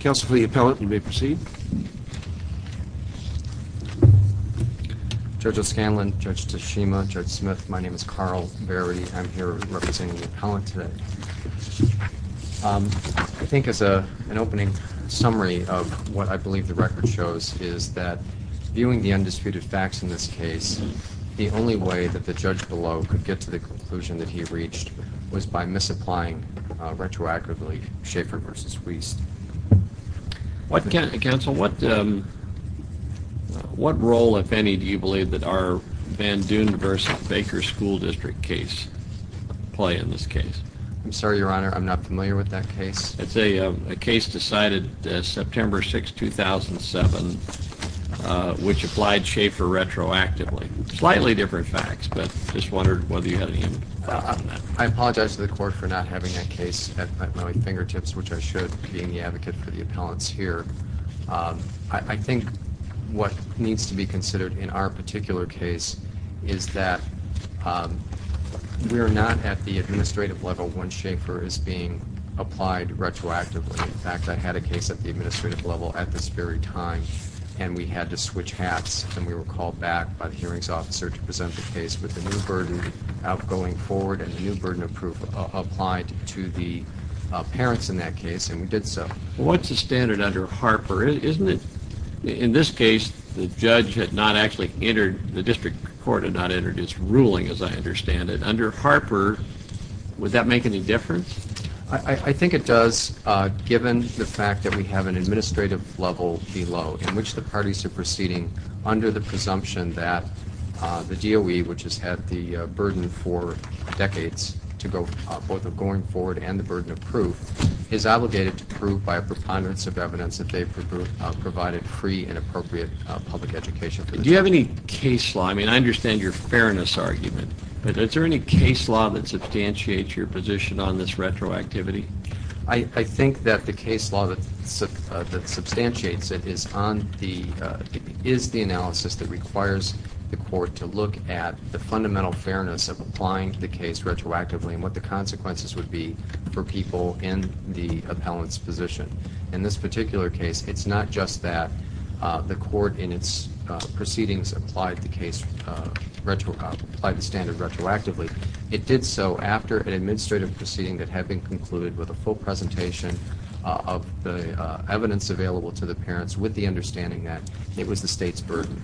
Counsel to the appellant, you may proceed. Judge O'Scanlan, Judge Tashima, Judge Smith, my name is Carl Berry. I'm here representing the appellant today. I think as an opening summary of what I believe the record shows is that viewing the undisputed facts in this case, the only way that the judge below could get to the conclusion that he reached was by misapplying retroactively Schaefer v. Wiest. Counsel, what role, if any, do you believe that our Van Doon v. Baker School District case play in this case? I'm sorry, Your Honor, I'm not familiar with that case. It's a case decided September 6, 2007, which applied Schaefer retroactively. Slightly different facts, but just wondered whether you had any input on that. I apologize to the court for not having that case at my fingertips, which I should, being the advocate for the appellants here. I think what needs to be considered in our particular case is that we're not at the administrative level when Schaefer is being applied retroactively. In fact, I had a case at the administrative level at this very time, and we had to switch hats, and we were called back by the hearings officer to present the case with a new burden out going forward and a new burden of proof applied to the parents in that case, and we did so. Well, what's the standard under Harper? Isn't it, in this case, the judge had not actually entered, the district court had not entered its ruling, as I understand it. Under Harper, would that make any difference? I think it does, given the fact that we have an administrative level below in which the parties are proceeding under the presumption that the DOE, which has had the burden for decades, both of going forward and the burden of proof, is obligated to prove by a preponderance of evidence that they provided free and appropriate public education. Do you have any case law? I mean, I understand your fairness argument, but is there any case law that substantiates your position on this retroactivity? I think that the case law that substantiates it is the analysis that requires the court to look at the fundamental fairness of applying the case retroactively and what the consequences would be for people in the appellant's position. In this particular case, it's not just that the court in its proceedings applied the standard retroactively. It did so after an administrative proceeding that had been concluded with a full presentation of the evidence available to the parents with the understanding that it was the state's burden.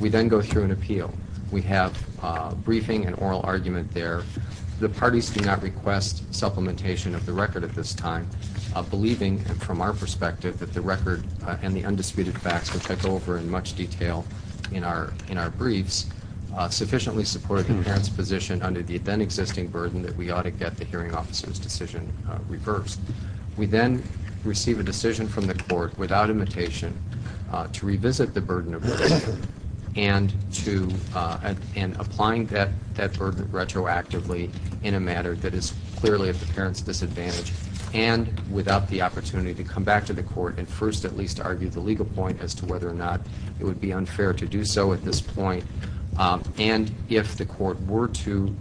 We then go through an appeal. We have a briefing and oral argument there. The parties do not request supplementation of the record at this time, believing from our perspective that the record and the undisputed facts will take over in much detail in our briefs, and we have sufficiently supported the parent's position under the then existing burden that we ought to get the hearing officer's decision reversed. We then receive a decision from the court, without imitation, to revisit the burden of the record and applying that burden retroactively in a matter that is clearly at the parent's disadvantage and without the opportunity to come back to the court and first at least argue the legal point as to whether or not it would be unfair to do so at this point and if the court were to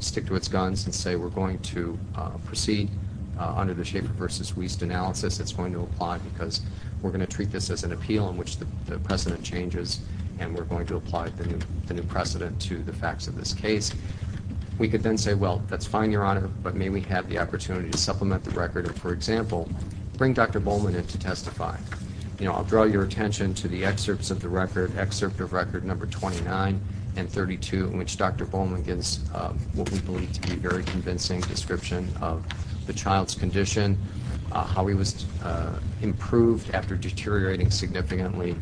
stick to its guns and say we're going to proceed under the Schaefer v. Wiest analysis, it's going to apply because we're going to treat this as an appeal in which the precedent changes and we're going to apply the new precedent to the facts of this case. We could then say, well, that's fine, Your Honor, but may we have the opportunity to supplement the record I'll draw your attention to the excerpts of record number 29 and 32 in which Dr. Bowman gives what we believe to be a very convincing description of the child's condition, how he was improved after deteriorating significantly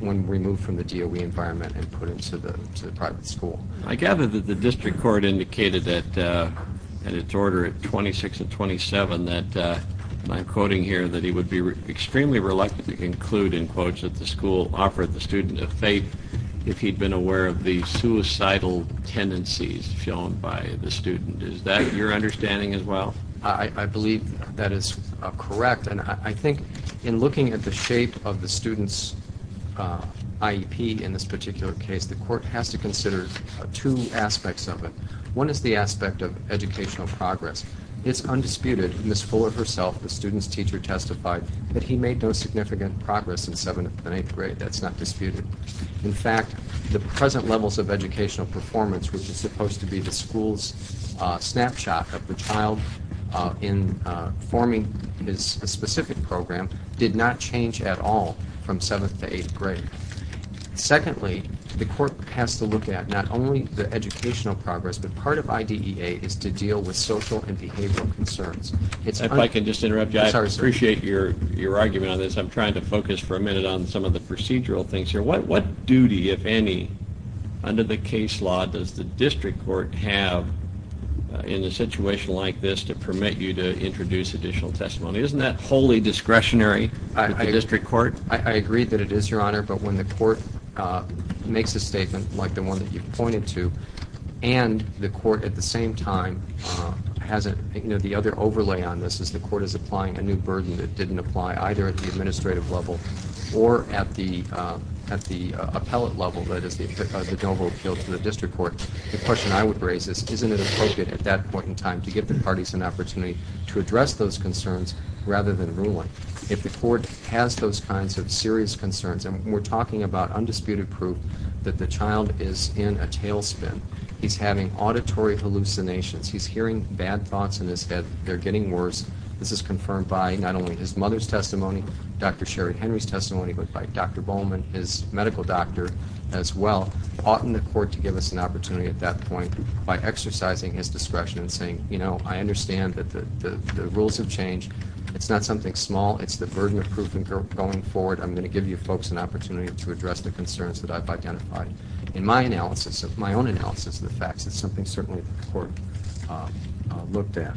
when removed from the DOE environment and put into the private school. I gather that the district court indicated at its order at 26 and 27 that, and I'm quoting here, that he would be extremely reluctant to include in quotes that the school offered the student a fate if he'd been aware of the suicidal tendencies shown by the student. Is that your understanding as well? I believe that is correct, and I think in looking at the shape of the student's IEP in this particular case, the court has to consider two aspects of it. One is the aspect of educational progress. It's undisputed. Ms. Fuller herself, the student's teacher, testified that he made no significant progress in 7th and 8th grade. That's not disputed. In fact, the present levels of educational performance, which is supposed to be the school's snapshot of the child in forming his specific program, did not change at all from 7th to 8th grade. Secondly, the court has to look at not only the educational progress, but part of IDEA is to deal with social and behavioral concerns. If I could just interrupt you. I appreciate your argument on this. I'm trying to focus for a minute on some of the procedural things here. What duty, if any, under the case law, does the district court have in a situation like this to permit you to introduce additional testimony? Isn't that wholly discretionary for the district court? I agree that it is, Your Honor, but when the court makes a statement like the one that you pointed to and the court at the same time has a, you know, the other overlay on this is the court is applying a new burden that didn't apply either at the administrative level or at the appellate level, that is, the general appeal to the district court, the question I would raise is isn't it appropriate at that point in time to give the parties an opportunity to address those concerns rather than ruling? If the court has those kinds of serious concerns, and we're talking about undisputed proof that the child is in a tailspin, he's having auditory hallucinations, he's hearing bad thoughts in his head, they're getting worse, this is confirmed by not only his mother's testimony, Dr. Sherry Henry's testimony, but by Dr. Bowman, his medical doctor as well, oughtn't the court to give us an opportunity at that point by exercising his discretion and saying, you know, I understand that the rules have changed. It's not something small. It's the burden of proof going forward. I'm going to give you folks an opportunity to address the concerns that I've identified. In my analysis, my own analysis of the facts, it's something certainly the court looked at.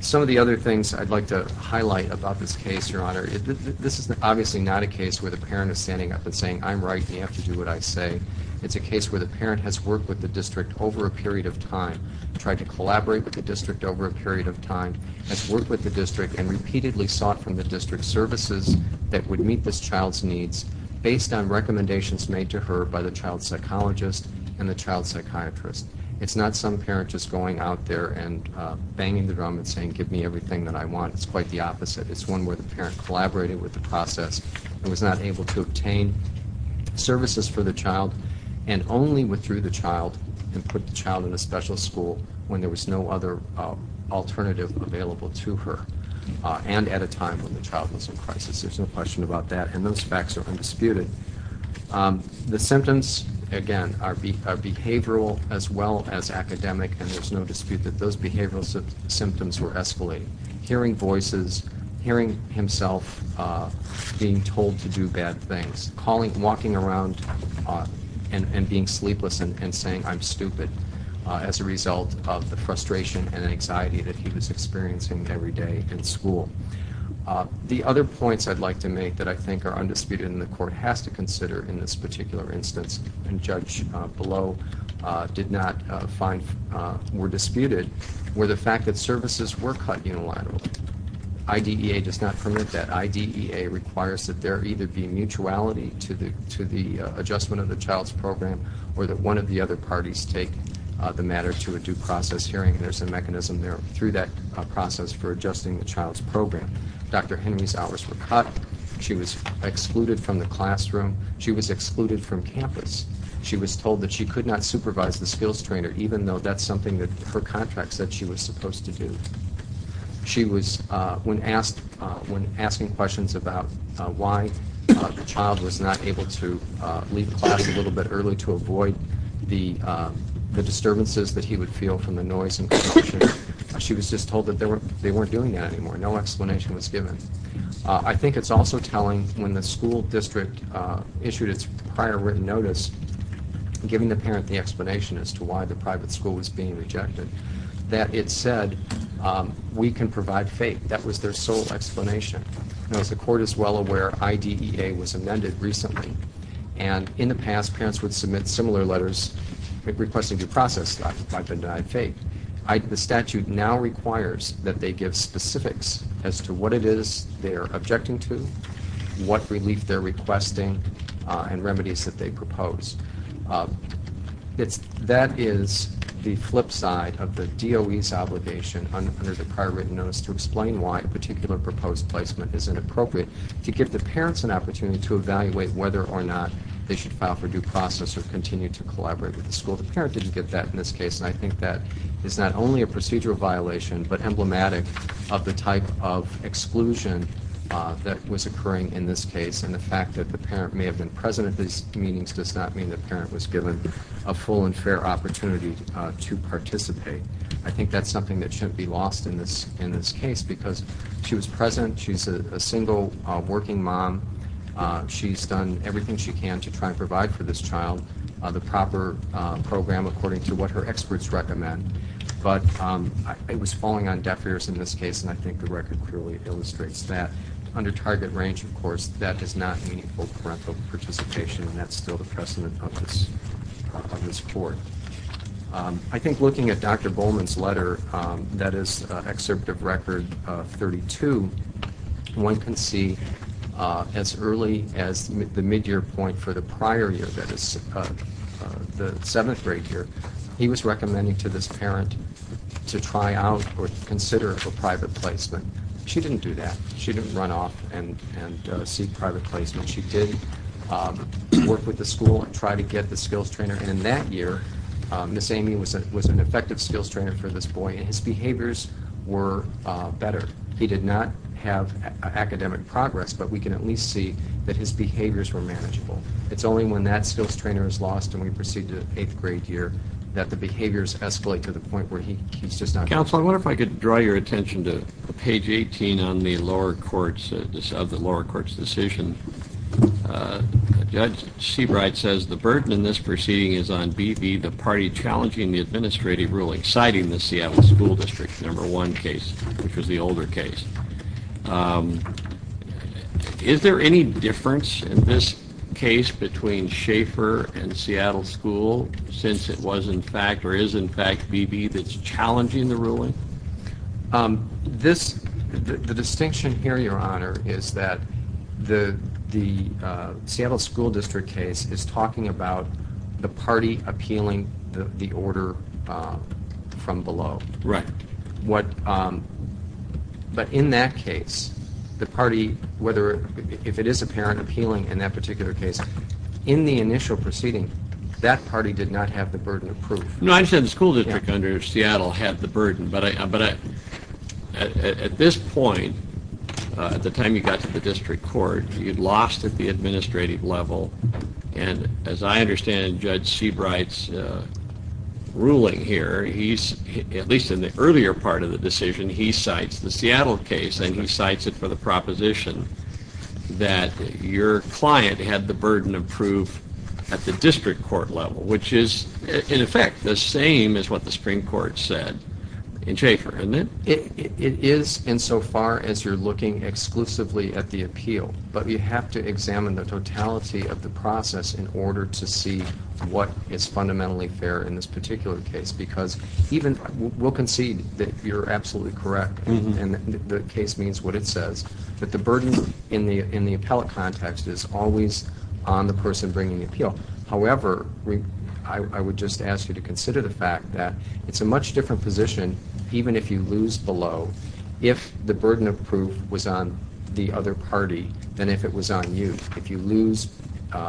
Some of the other things I'd like to highlight about this case, Your Honor, this is obviously not a case where the parent is standing up and saying I'm right and you have to do what I say. It's a case where the parent has worked with the district over a period of time, tried to collaborate with the district over a period of time, has worked with the district and repeatedly sought from the district services that would meet this child's needs based on recommendations made to her by the child psychologist and the child psychiatrist. It's not some parent just going out there and banging the drum and saying give me everything that I want. It's quite the opposite. It's one where the parent collaborated with the process and was not able to obtain services for the child and only withdrew the child and put the child in a special school when there was no other alternative available to her and at a time when the child was in crisis. There's no question about that, and those facts are undisputed. The symptoms, again, are behavioral as well as academic, and there's no dispute that those behavioral symptoms were escalating. Hearing voices, hearing himself being told to do bad things, walking around and being sleepless and saying I'm stupid as a result of the frustration and anxiety that he was experiencing every day in school. The other points I'd like to make that I think are undisputed and the court has to consider in this particular instance and Judge Below did not find were disputed were the fact that services were cut unilaterally. IDEA does not permit that. IDEA requires that there either be mutuality to the adjustment of the child's program or that one of the other parties take the matter to a due process hearing, and there's a mechanism there through that process for adjusting the child's program. Dr. Henry's hours were cut. She was excluded from the classroom. She was excluded from campus. She was told that she could not supervise the skills trainer even though that's something that her contract said she was supposed to do. She was, when asking questions about why the child was not able to leave class a little bit early to avoid the disturbances that he would feel from the noise and commotion, she was just told that they weren't doing that anymore. No explanation was given. I think it's also telling when the school district issued its prior written notice giving the parent the explanation as to why the private school was being rejected, that it said, we can provide faith. That was their sole explanation. Now, as the court is well aware, IDEA was amended recently, and in the past parents would submit similar letters requesting due process by benign faith. The statute now requires that they give specifics as to what it is they're objecting to, what relief they're requesting, and remedies that they propose. That is the flip side of the DOE's obligation under the prior written notice to explain why a particular proposed placement is inappropriate, to give the parents an opportunity to evaluate whether or not they should file for due process or continue to collaborate with the school. The parent didn't get that in this case, and I think that is not only a procedural violation but emblematic of the type of exclusion that was occurring in this case, and the fact that the parent may have been present at these meetings does not mean the parent was given a full and fair opportunity to participate. I think that's something that shouldn't be lost in this case because she was present. She's a single working mom. She's done everything she can to try and provide for this child the proper program according to what her experts recommend. But it was falling on deaf ears in this case, and I think the record clearly illustrates that. Under target range, of course, that is not meaningful parental participation, and that's still the precedent of this court. I think looking at Dr. Bowman's letter that is Excerpt of Record 32, one can see as early as the midyear point for the prior year, that is the seventh grade year, he was recommending to this parent to try out or consider a private placement. She didn't do that. She didn't run off and seek private placement. She did work with the school and try to get the skills trainer, and in that year Miss Amy was an effective skills trainer for this boy, and his behaviors were better. He did not have academic progress, but we can at least see that his behaviors were manageable. It's only when that skills trainer is lost and we proceed to the eighth grade year that the behaviors escalate to the point where he's just not good. Counsel, I wonder if I could draw your attention to page 18 of the lower court's decision. Judge Seabright says the burden in this proceeding is on BB, the party challenging the administrative ruling, citing the Seattle School District number one case, which was the older case. Is there any difference in this case between Schaefer and Seattle School since it was in fact BB that's challenging the ruling? The distinction here, Your Honor, is that the Seattle School District case is talking about the party appealing the order from below. Right. But in that case, the party, if it is a parent appealing in that particular case, in the initial proceeding that party did not have the burden of proof. No, I understand the school district under Seattle had the burden, but at this point, at the time you got to the district court, you lost at the administrative level, and as I understand Judge Seabright's ruling here, at least in the earlier part of the decision, he cites the Seattle case and he cites it for the proposition that your client had the burden of proof at the district court level, which is in effect the same as what the Supreme Court said in Schaefer, isn't it? It is insofar as you're looking exclusively at the appeal, but you have to examine the totality of the process in order to see what is fundamentally fair in this particular case, because even we'll concede that you're absolutely correct, and the case means what it says, that the burden in the appellate context is always on the person bringing the appeal. However, I would just ask you to consider the fact that it's a much different position, even if you lose below, if the burden of proof was on the other party than if it was on you. If you lose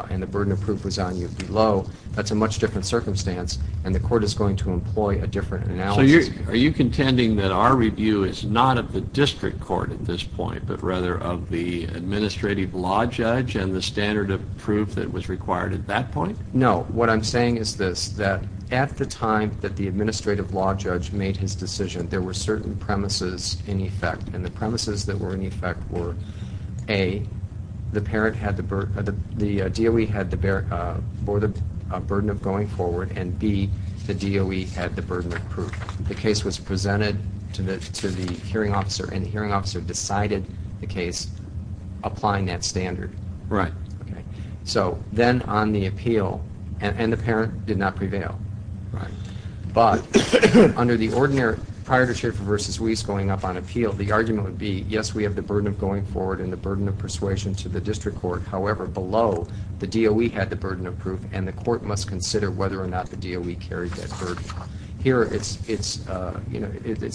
and the burden of proof was on you below, that's a much different circumstance, and the court is going to employ a different analysis. So are you contending that our review is not of the district court at this point, but rather of the administrative law judge and the standard of proof that was required at that point? No, what I'm saying is this, that at the time that the administrative law judge made his decision, there were certain premises in effect, and the premises that were in effect were, A, the DOE had the burden of going forward, and B, the DOE had the burden of proof. The case was presented to the hearing officer, and the hearing officer decided the case applying that standard. Right. Okay. So then on the appeal, and the parent did not prevail. Right. But under the ordinary, prior to Schaefer v. Weiss going up on appeal, the argument would be, yes, we have the burden of going forward and the burden of persuasion to the district court. However, below, the DOE had the burden of proof, and the court must consider whether or not the DOE carried that burden. Here, it's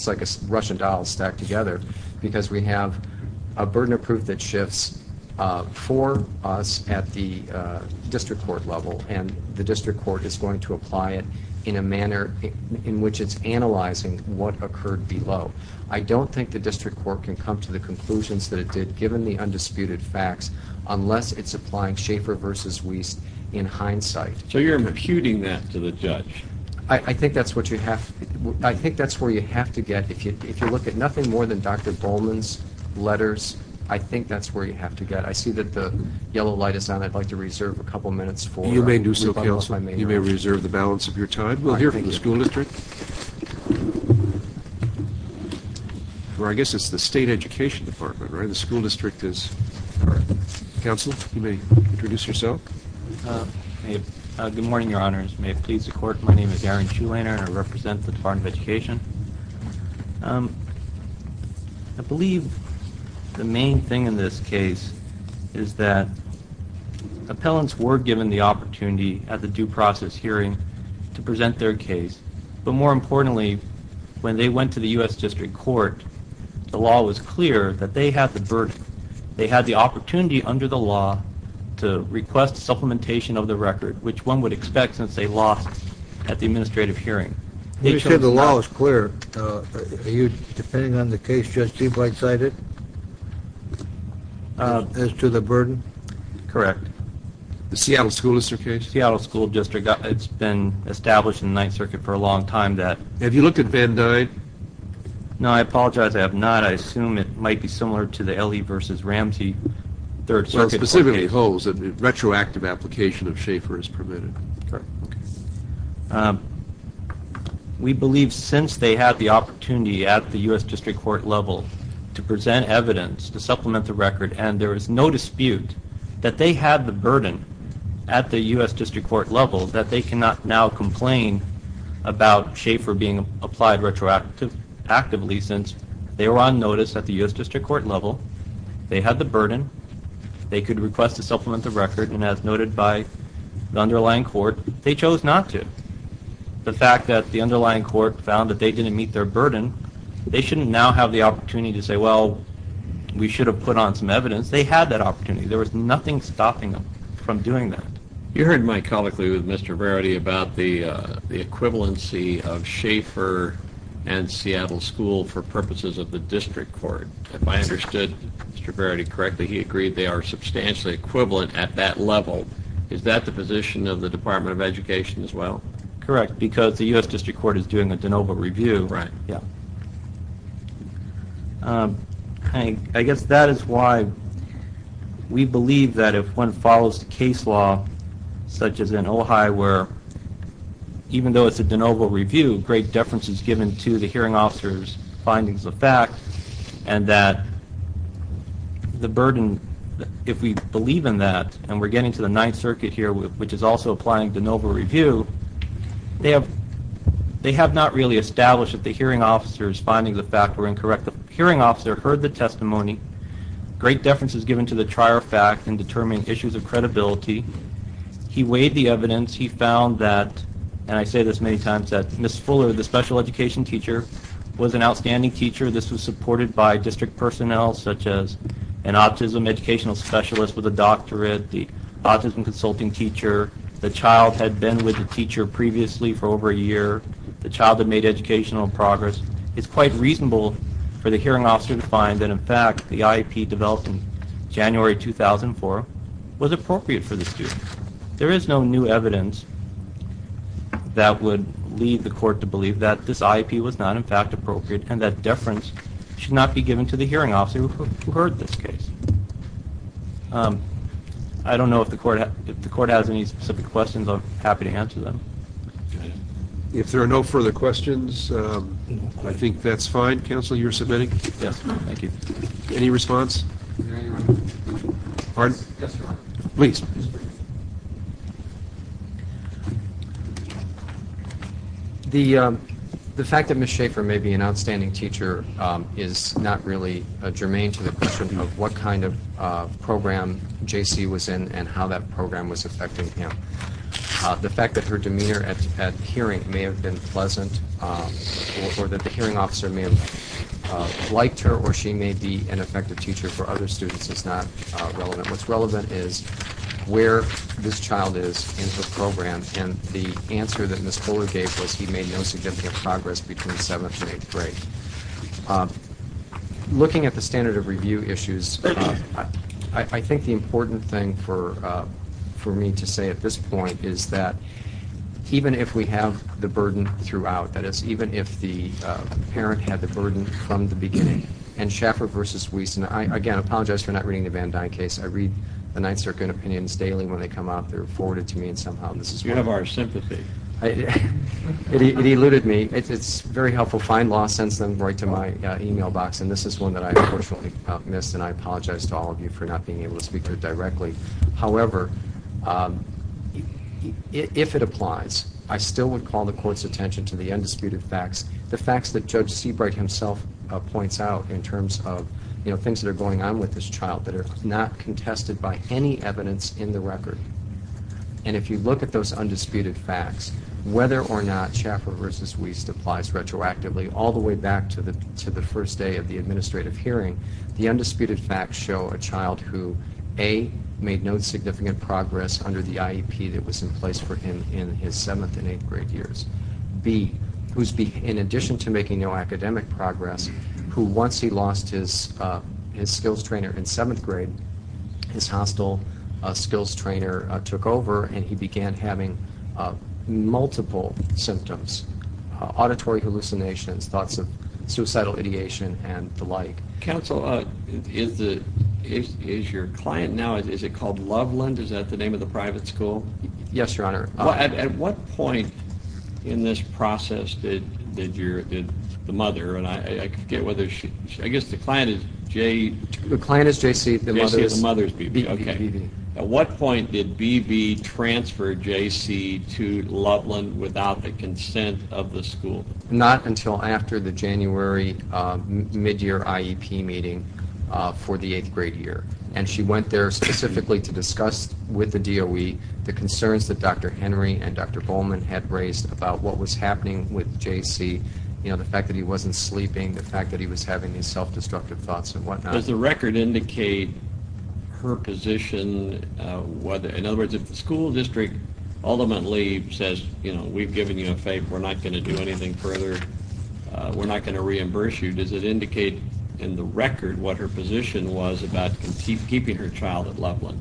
like a Russian doll stacked together, because we have a burden of proof that shifts for us at the district court level, and the district court is going to apply it in a manner in which it's analyzing what occurred below. I don't think the district court can come to the conclusions that it did, given the undisputed facts, unless it's applying Schaefer v. Weiss in hindsight. So you're imputing that to the judge? I think that's what you have. I think that's where you have to get. If you look at nothing more than Dr. Bowman's letters, I think that's where you have to get. I see that the yellow light is on. I'd like to reserve a couple minutes for rebuttal if I may. You may do so, counsel. You may reserve the balance of your time. We'll hear from the school district. Or I guess it's the State Education Department, right? The school district is. Counsel, you may introduce yourself. Good morning, Your Honors. May it please the Court, my name is Aaron Shulainer, and I represent the Department of Education. I believe the main thing in this case is that appellants were given the opportunity at the due process hearing to present their case. But more importantly, when they went to the U.S. District Court, the law was clear that they had the opportunity under the law to request supplementation of the record, which one would expect since they lost at the administrative hearing. You said the law was clear. Are you depending on the case just deep right-sided as to the burden? Correct. The Seattle School District case? Seattle School District. It's been established in the Ninth Circuit for a long time. Have you looked at Van Dyde? No, I apologize. I have not. I assume it might be similar to the L.E. v. Ramsey Third Circuit case. So specifically holds that retroactive application of Schaefer is permitted. Correct. We believe since they had the opportunity at the U.S. District Court level to present evidence, to supplement the record, and there is no dispute that they had the burden at the U.S. District Court level that they cannot now complain about Schaefer being applied retroactively since they were on notice at the U.S. District Court level. They had the burden. They could request to supplement the record, and as noted by the underlying court, they chose not to. The fact that the underlying court found that they didn't meet their burden, they shouldn't now have the opportunity to say, well, we should have put on some evidence. They had that opportunity. There was nothing stopping them from doing that. You heard my colloquy with Mr. Verity about the equivalency of Schaefer and Seattle School for purposes of the District Court. If I understood Mr. Verity correctly, he agreed they are substantially equivalent at that level. Is that the position of the Department of Education as well? Correct, because the U.S. District Court is doing a de novo review. Right. I guess that is why we believe that if one follows the case law, such as in Ojai, where even though it's a de novo review, great deference is given to the hearing officer's findings of fact, and that the burden, if we believe in that, and we're getting to the Ninth Circuit here, which is also applying de novo review, they have not really established that the hearing officer's findings of fact were incorrect. The hearing officer heard the testimony. Great deference is given to the trier fact in determining issues of credibility. He weighed the evidence. He found that, and I say this many times, that Ms. Fuller, the special education teacher, was an outstanding teacher. This was supported by district personnel, such as an autism educational specialist with a doctorate, the autism consulting teacher, the child had been with the teacher previously for over a year, the child had made educational progress. It's quite reasonable for the hearing officer to find that, in fact, the IEP developed in January 2004 was appropriate for the student. There is no new evidence that would lead the court to believe that this IEP was not, in fact, appropriate and that deference should not be given to the hearing officer who heard this case. I don't know if the court has any specific questions. I'm happy to answer them. If there are no further questions, I think that's fine. Counsel, you're submitting? Yes. Thank you. Any response? Pardon? Yes, Your Honor. Please. The fact that Ms. Schaefer may be an outstanding teacher is not really germane to the question of what kind of program J.C. was in and how that program was affecting him. The fact that her demeanor at hearing may have been pleasant or that the hearing officer may have liked her or she may be an effective teacher for other students is not relevant. What's relevant is where this child is in her program, and the answer that Ms. Kohler gave was he made no significant progress between seventh and eighth grade. Looking at the standard of review issues, I think the important thing for me to say at this point is that even if we have the burden throughout, that is, even if the parent had the burden from the beginning, and Schaefer v. Wiesten, again, I apologize for not reading the Van Dyne case. I read the Ninth Circuit opinions daily when they come out. They're forwarded to me, and somehow this is one of them. You have our sympathy. It eluded me. It's very helpful. Fine Law sends them right to my e-mail box, and this is one that I unfortunately missed, and I apologize to all of you for not being able to speak to it directly. However, if it applies, I still would call the Court's attention to the undisputed facts, the facts that Judge Seabright himself points out in terms of things that are going on with this child that are not contested by any evidence in the record. And if you look at those undisputed facts, whether or not Schaefer v. Wiesten applies retroactively all the way back to the first day of the administrative hearing, the undisputed facts show a child who, A, made no significant progress under the IEP that was in place for him in his seventh and eighth grade years, B, who, in addition to making no academic progress, who, once he lost his skills trainer in seventh grade, his hostile skills trainer took over and he began having multiple symptoms, auditory hallucinations, thoughts of suicidal ideation, and the like. Counsel, is your client now, is it called Loveland? Is that the name of the private school? Yes, Your Honor. At what point in this process did the mother, and I forget whether she, I guess the client is J.C. The client is J.C., the mother is B.B. At what point did B.B. transfer J.C. to Loveland without the consent of the school? Not until after the January midyear IEP meeting for the eighth grade year. And she went there specifically to discuss with the DOE the concerns that Dr. Henry and Dr. Bowman had raised about what was happening with J.C., you know, the fact that he wasn't sleeping, the fact that he was having these self-destructive thoughts and whatnot. Does the record indicate her position, in other words, if the school district ultimately says, you know, we've given you a favor, we're not going to do anything further, we're not going to reimburse you, does it indicate in the record what her position was about keeping her child at Loveland?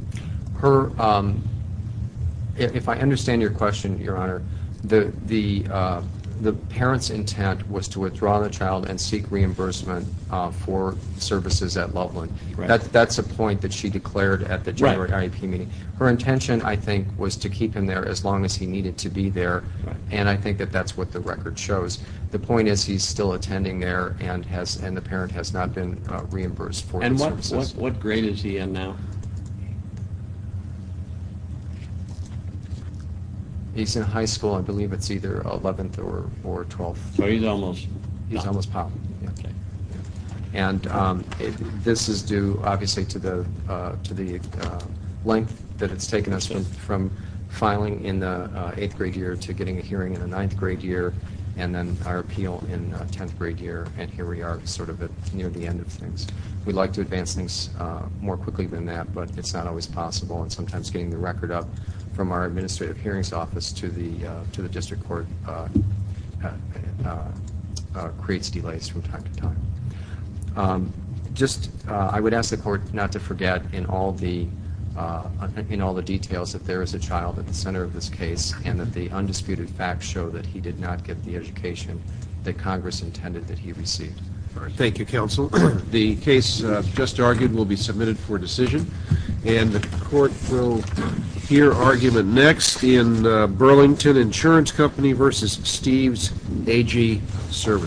If I understand your question, Your Honor, the parent's intent was to withdraw the child and seek reimbursement for services at Loveland. That's a point that she declared at the January IEP meeting. Her intention, I think, was to keep him there as long as he needed to be there, and I think that that's what the record shows. The point is he's still attending there and the parent has not been reimbursed for the services. And what grade is he in now? He's in high school. I believe it's either 11th or 12th. So he's almost pop. He's almost pop. Okay. And this is due, obviously, to the length that it's taken us from filing in the eighth grade year to getting a hearing in the ninth grade year, and then our appeal in tenth grade year, and here we are sort of near the end of things. We'd like to advance things more quickly than that, but it's not always possible, and sometimes getting the record up from our administrative hearings office to the district court creates delays from time to time. I would ask the Court not to forget in all the details that there is a child at the center of this case and that the undisputed facts show that he did not get the education that Congress intended that he received. Thank you, Counsel. The case just argued will be submitted for decision, and the Court will hear argument next in Burlington Insurance Company v. Steve's AG Services.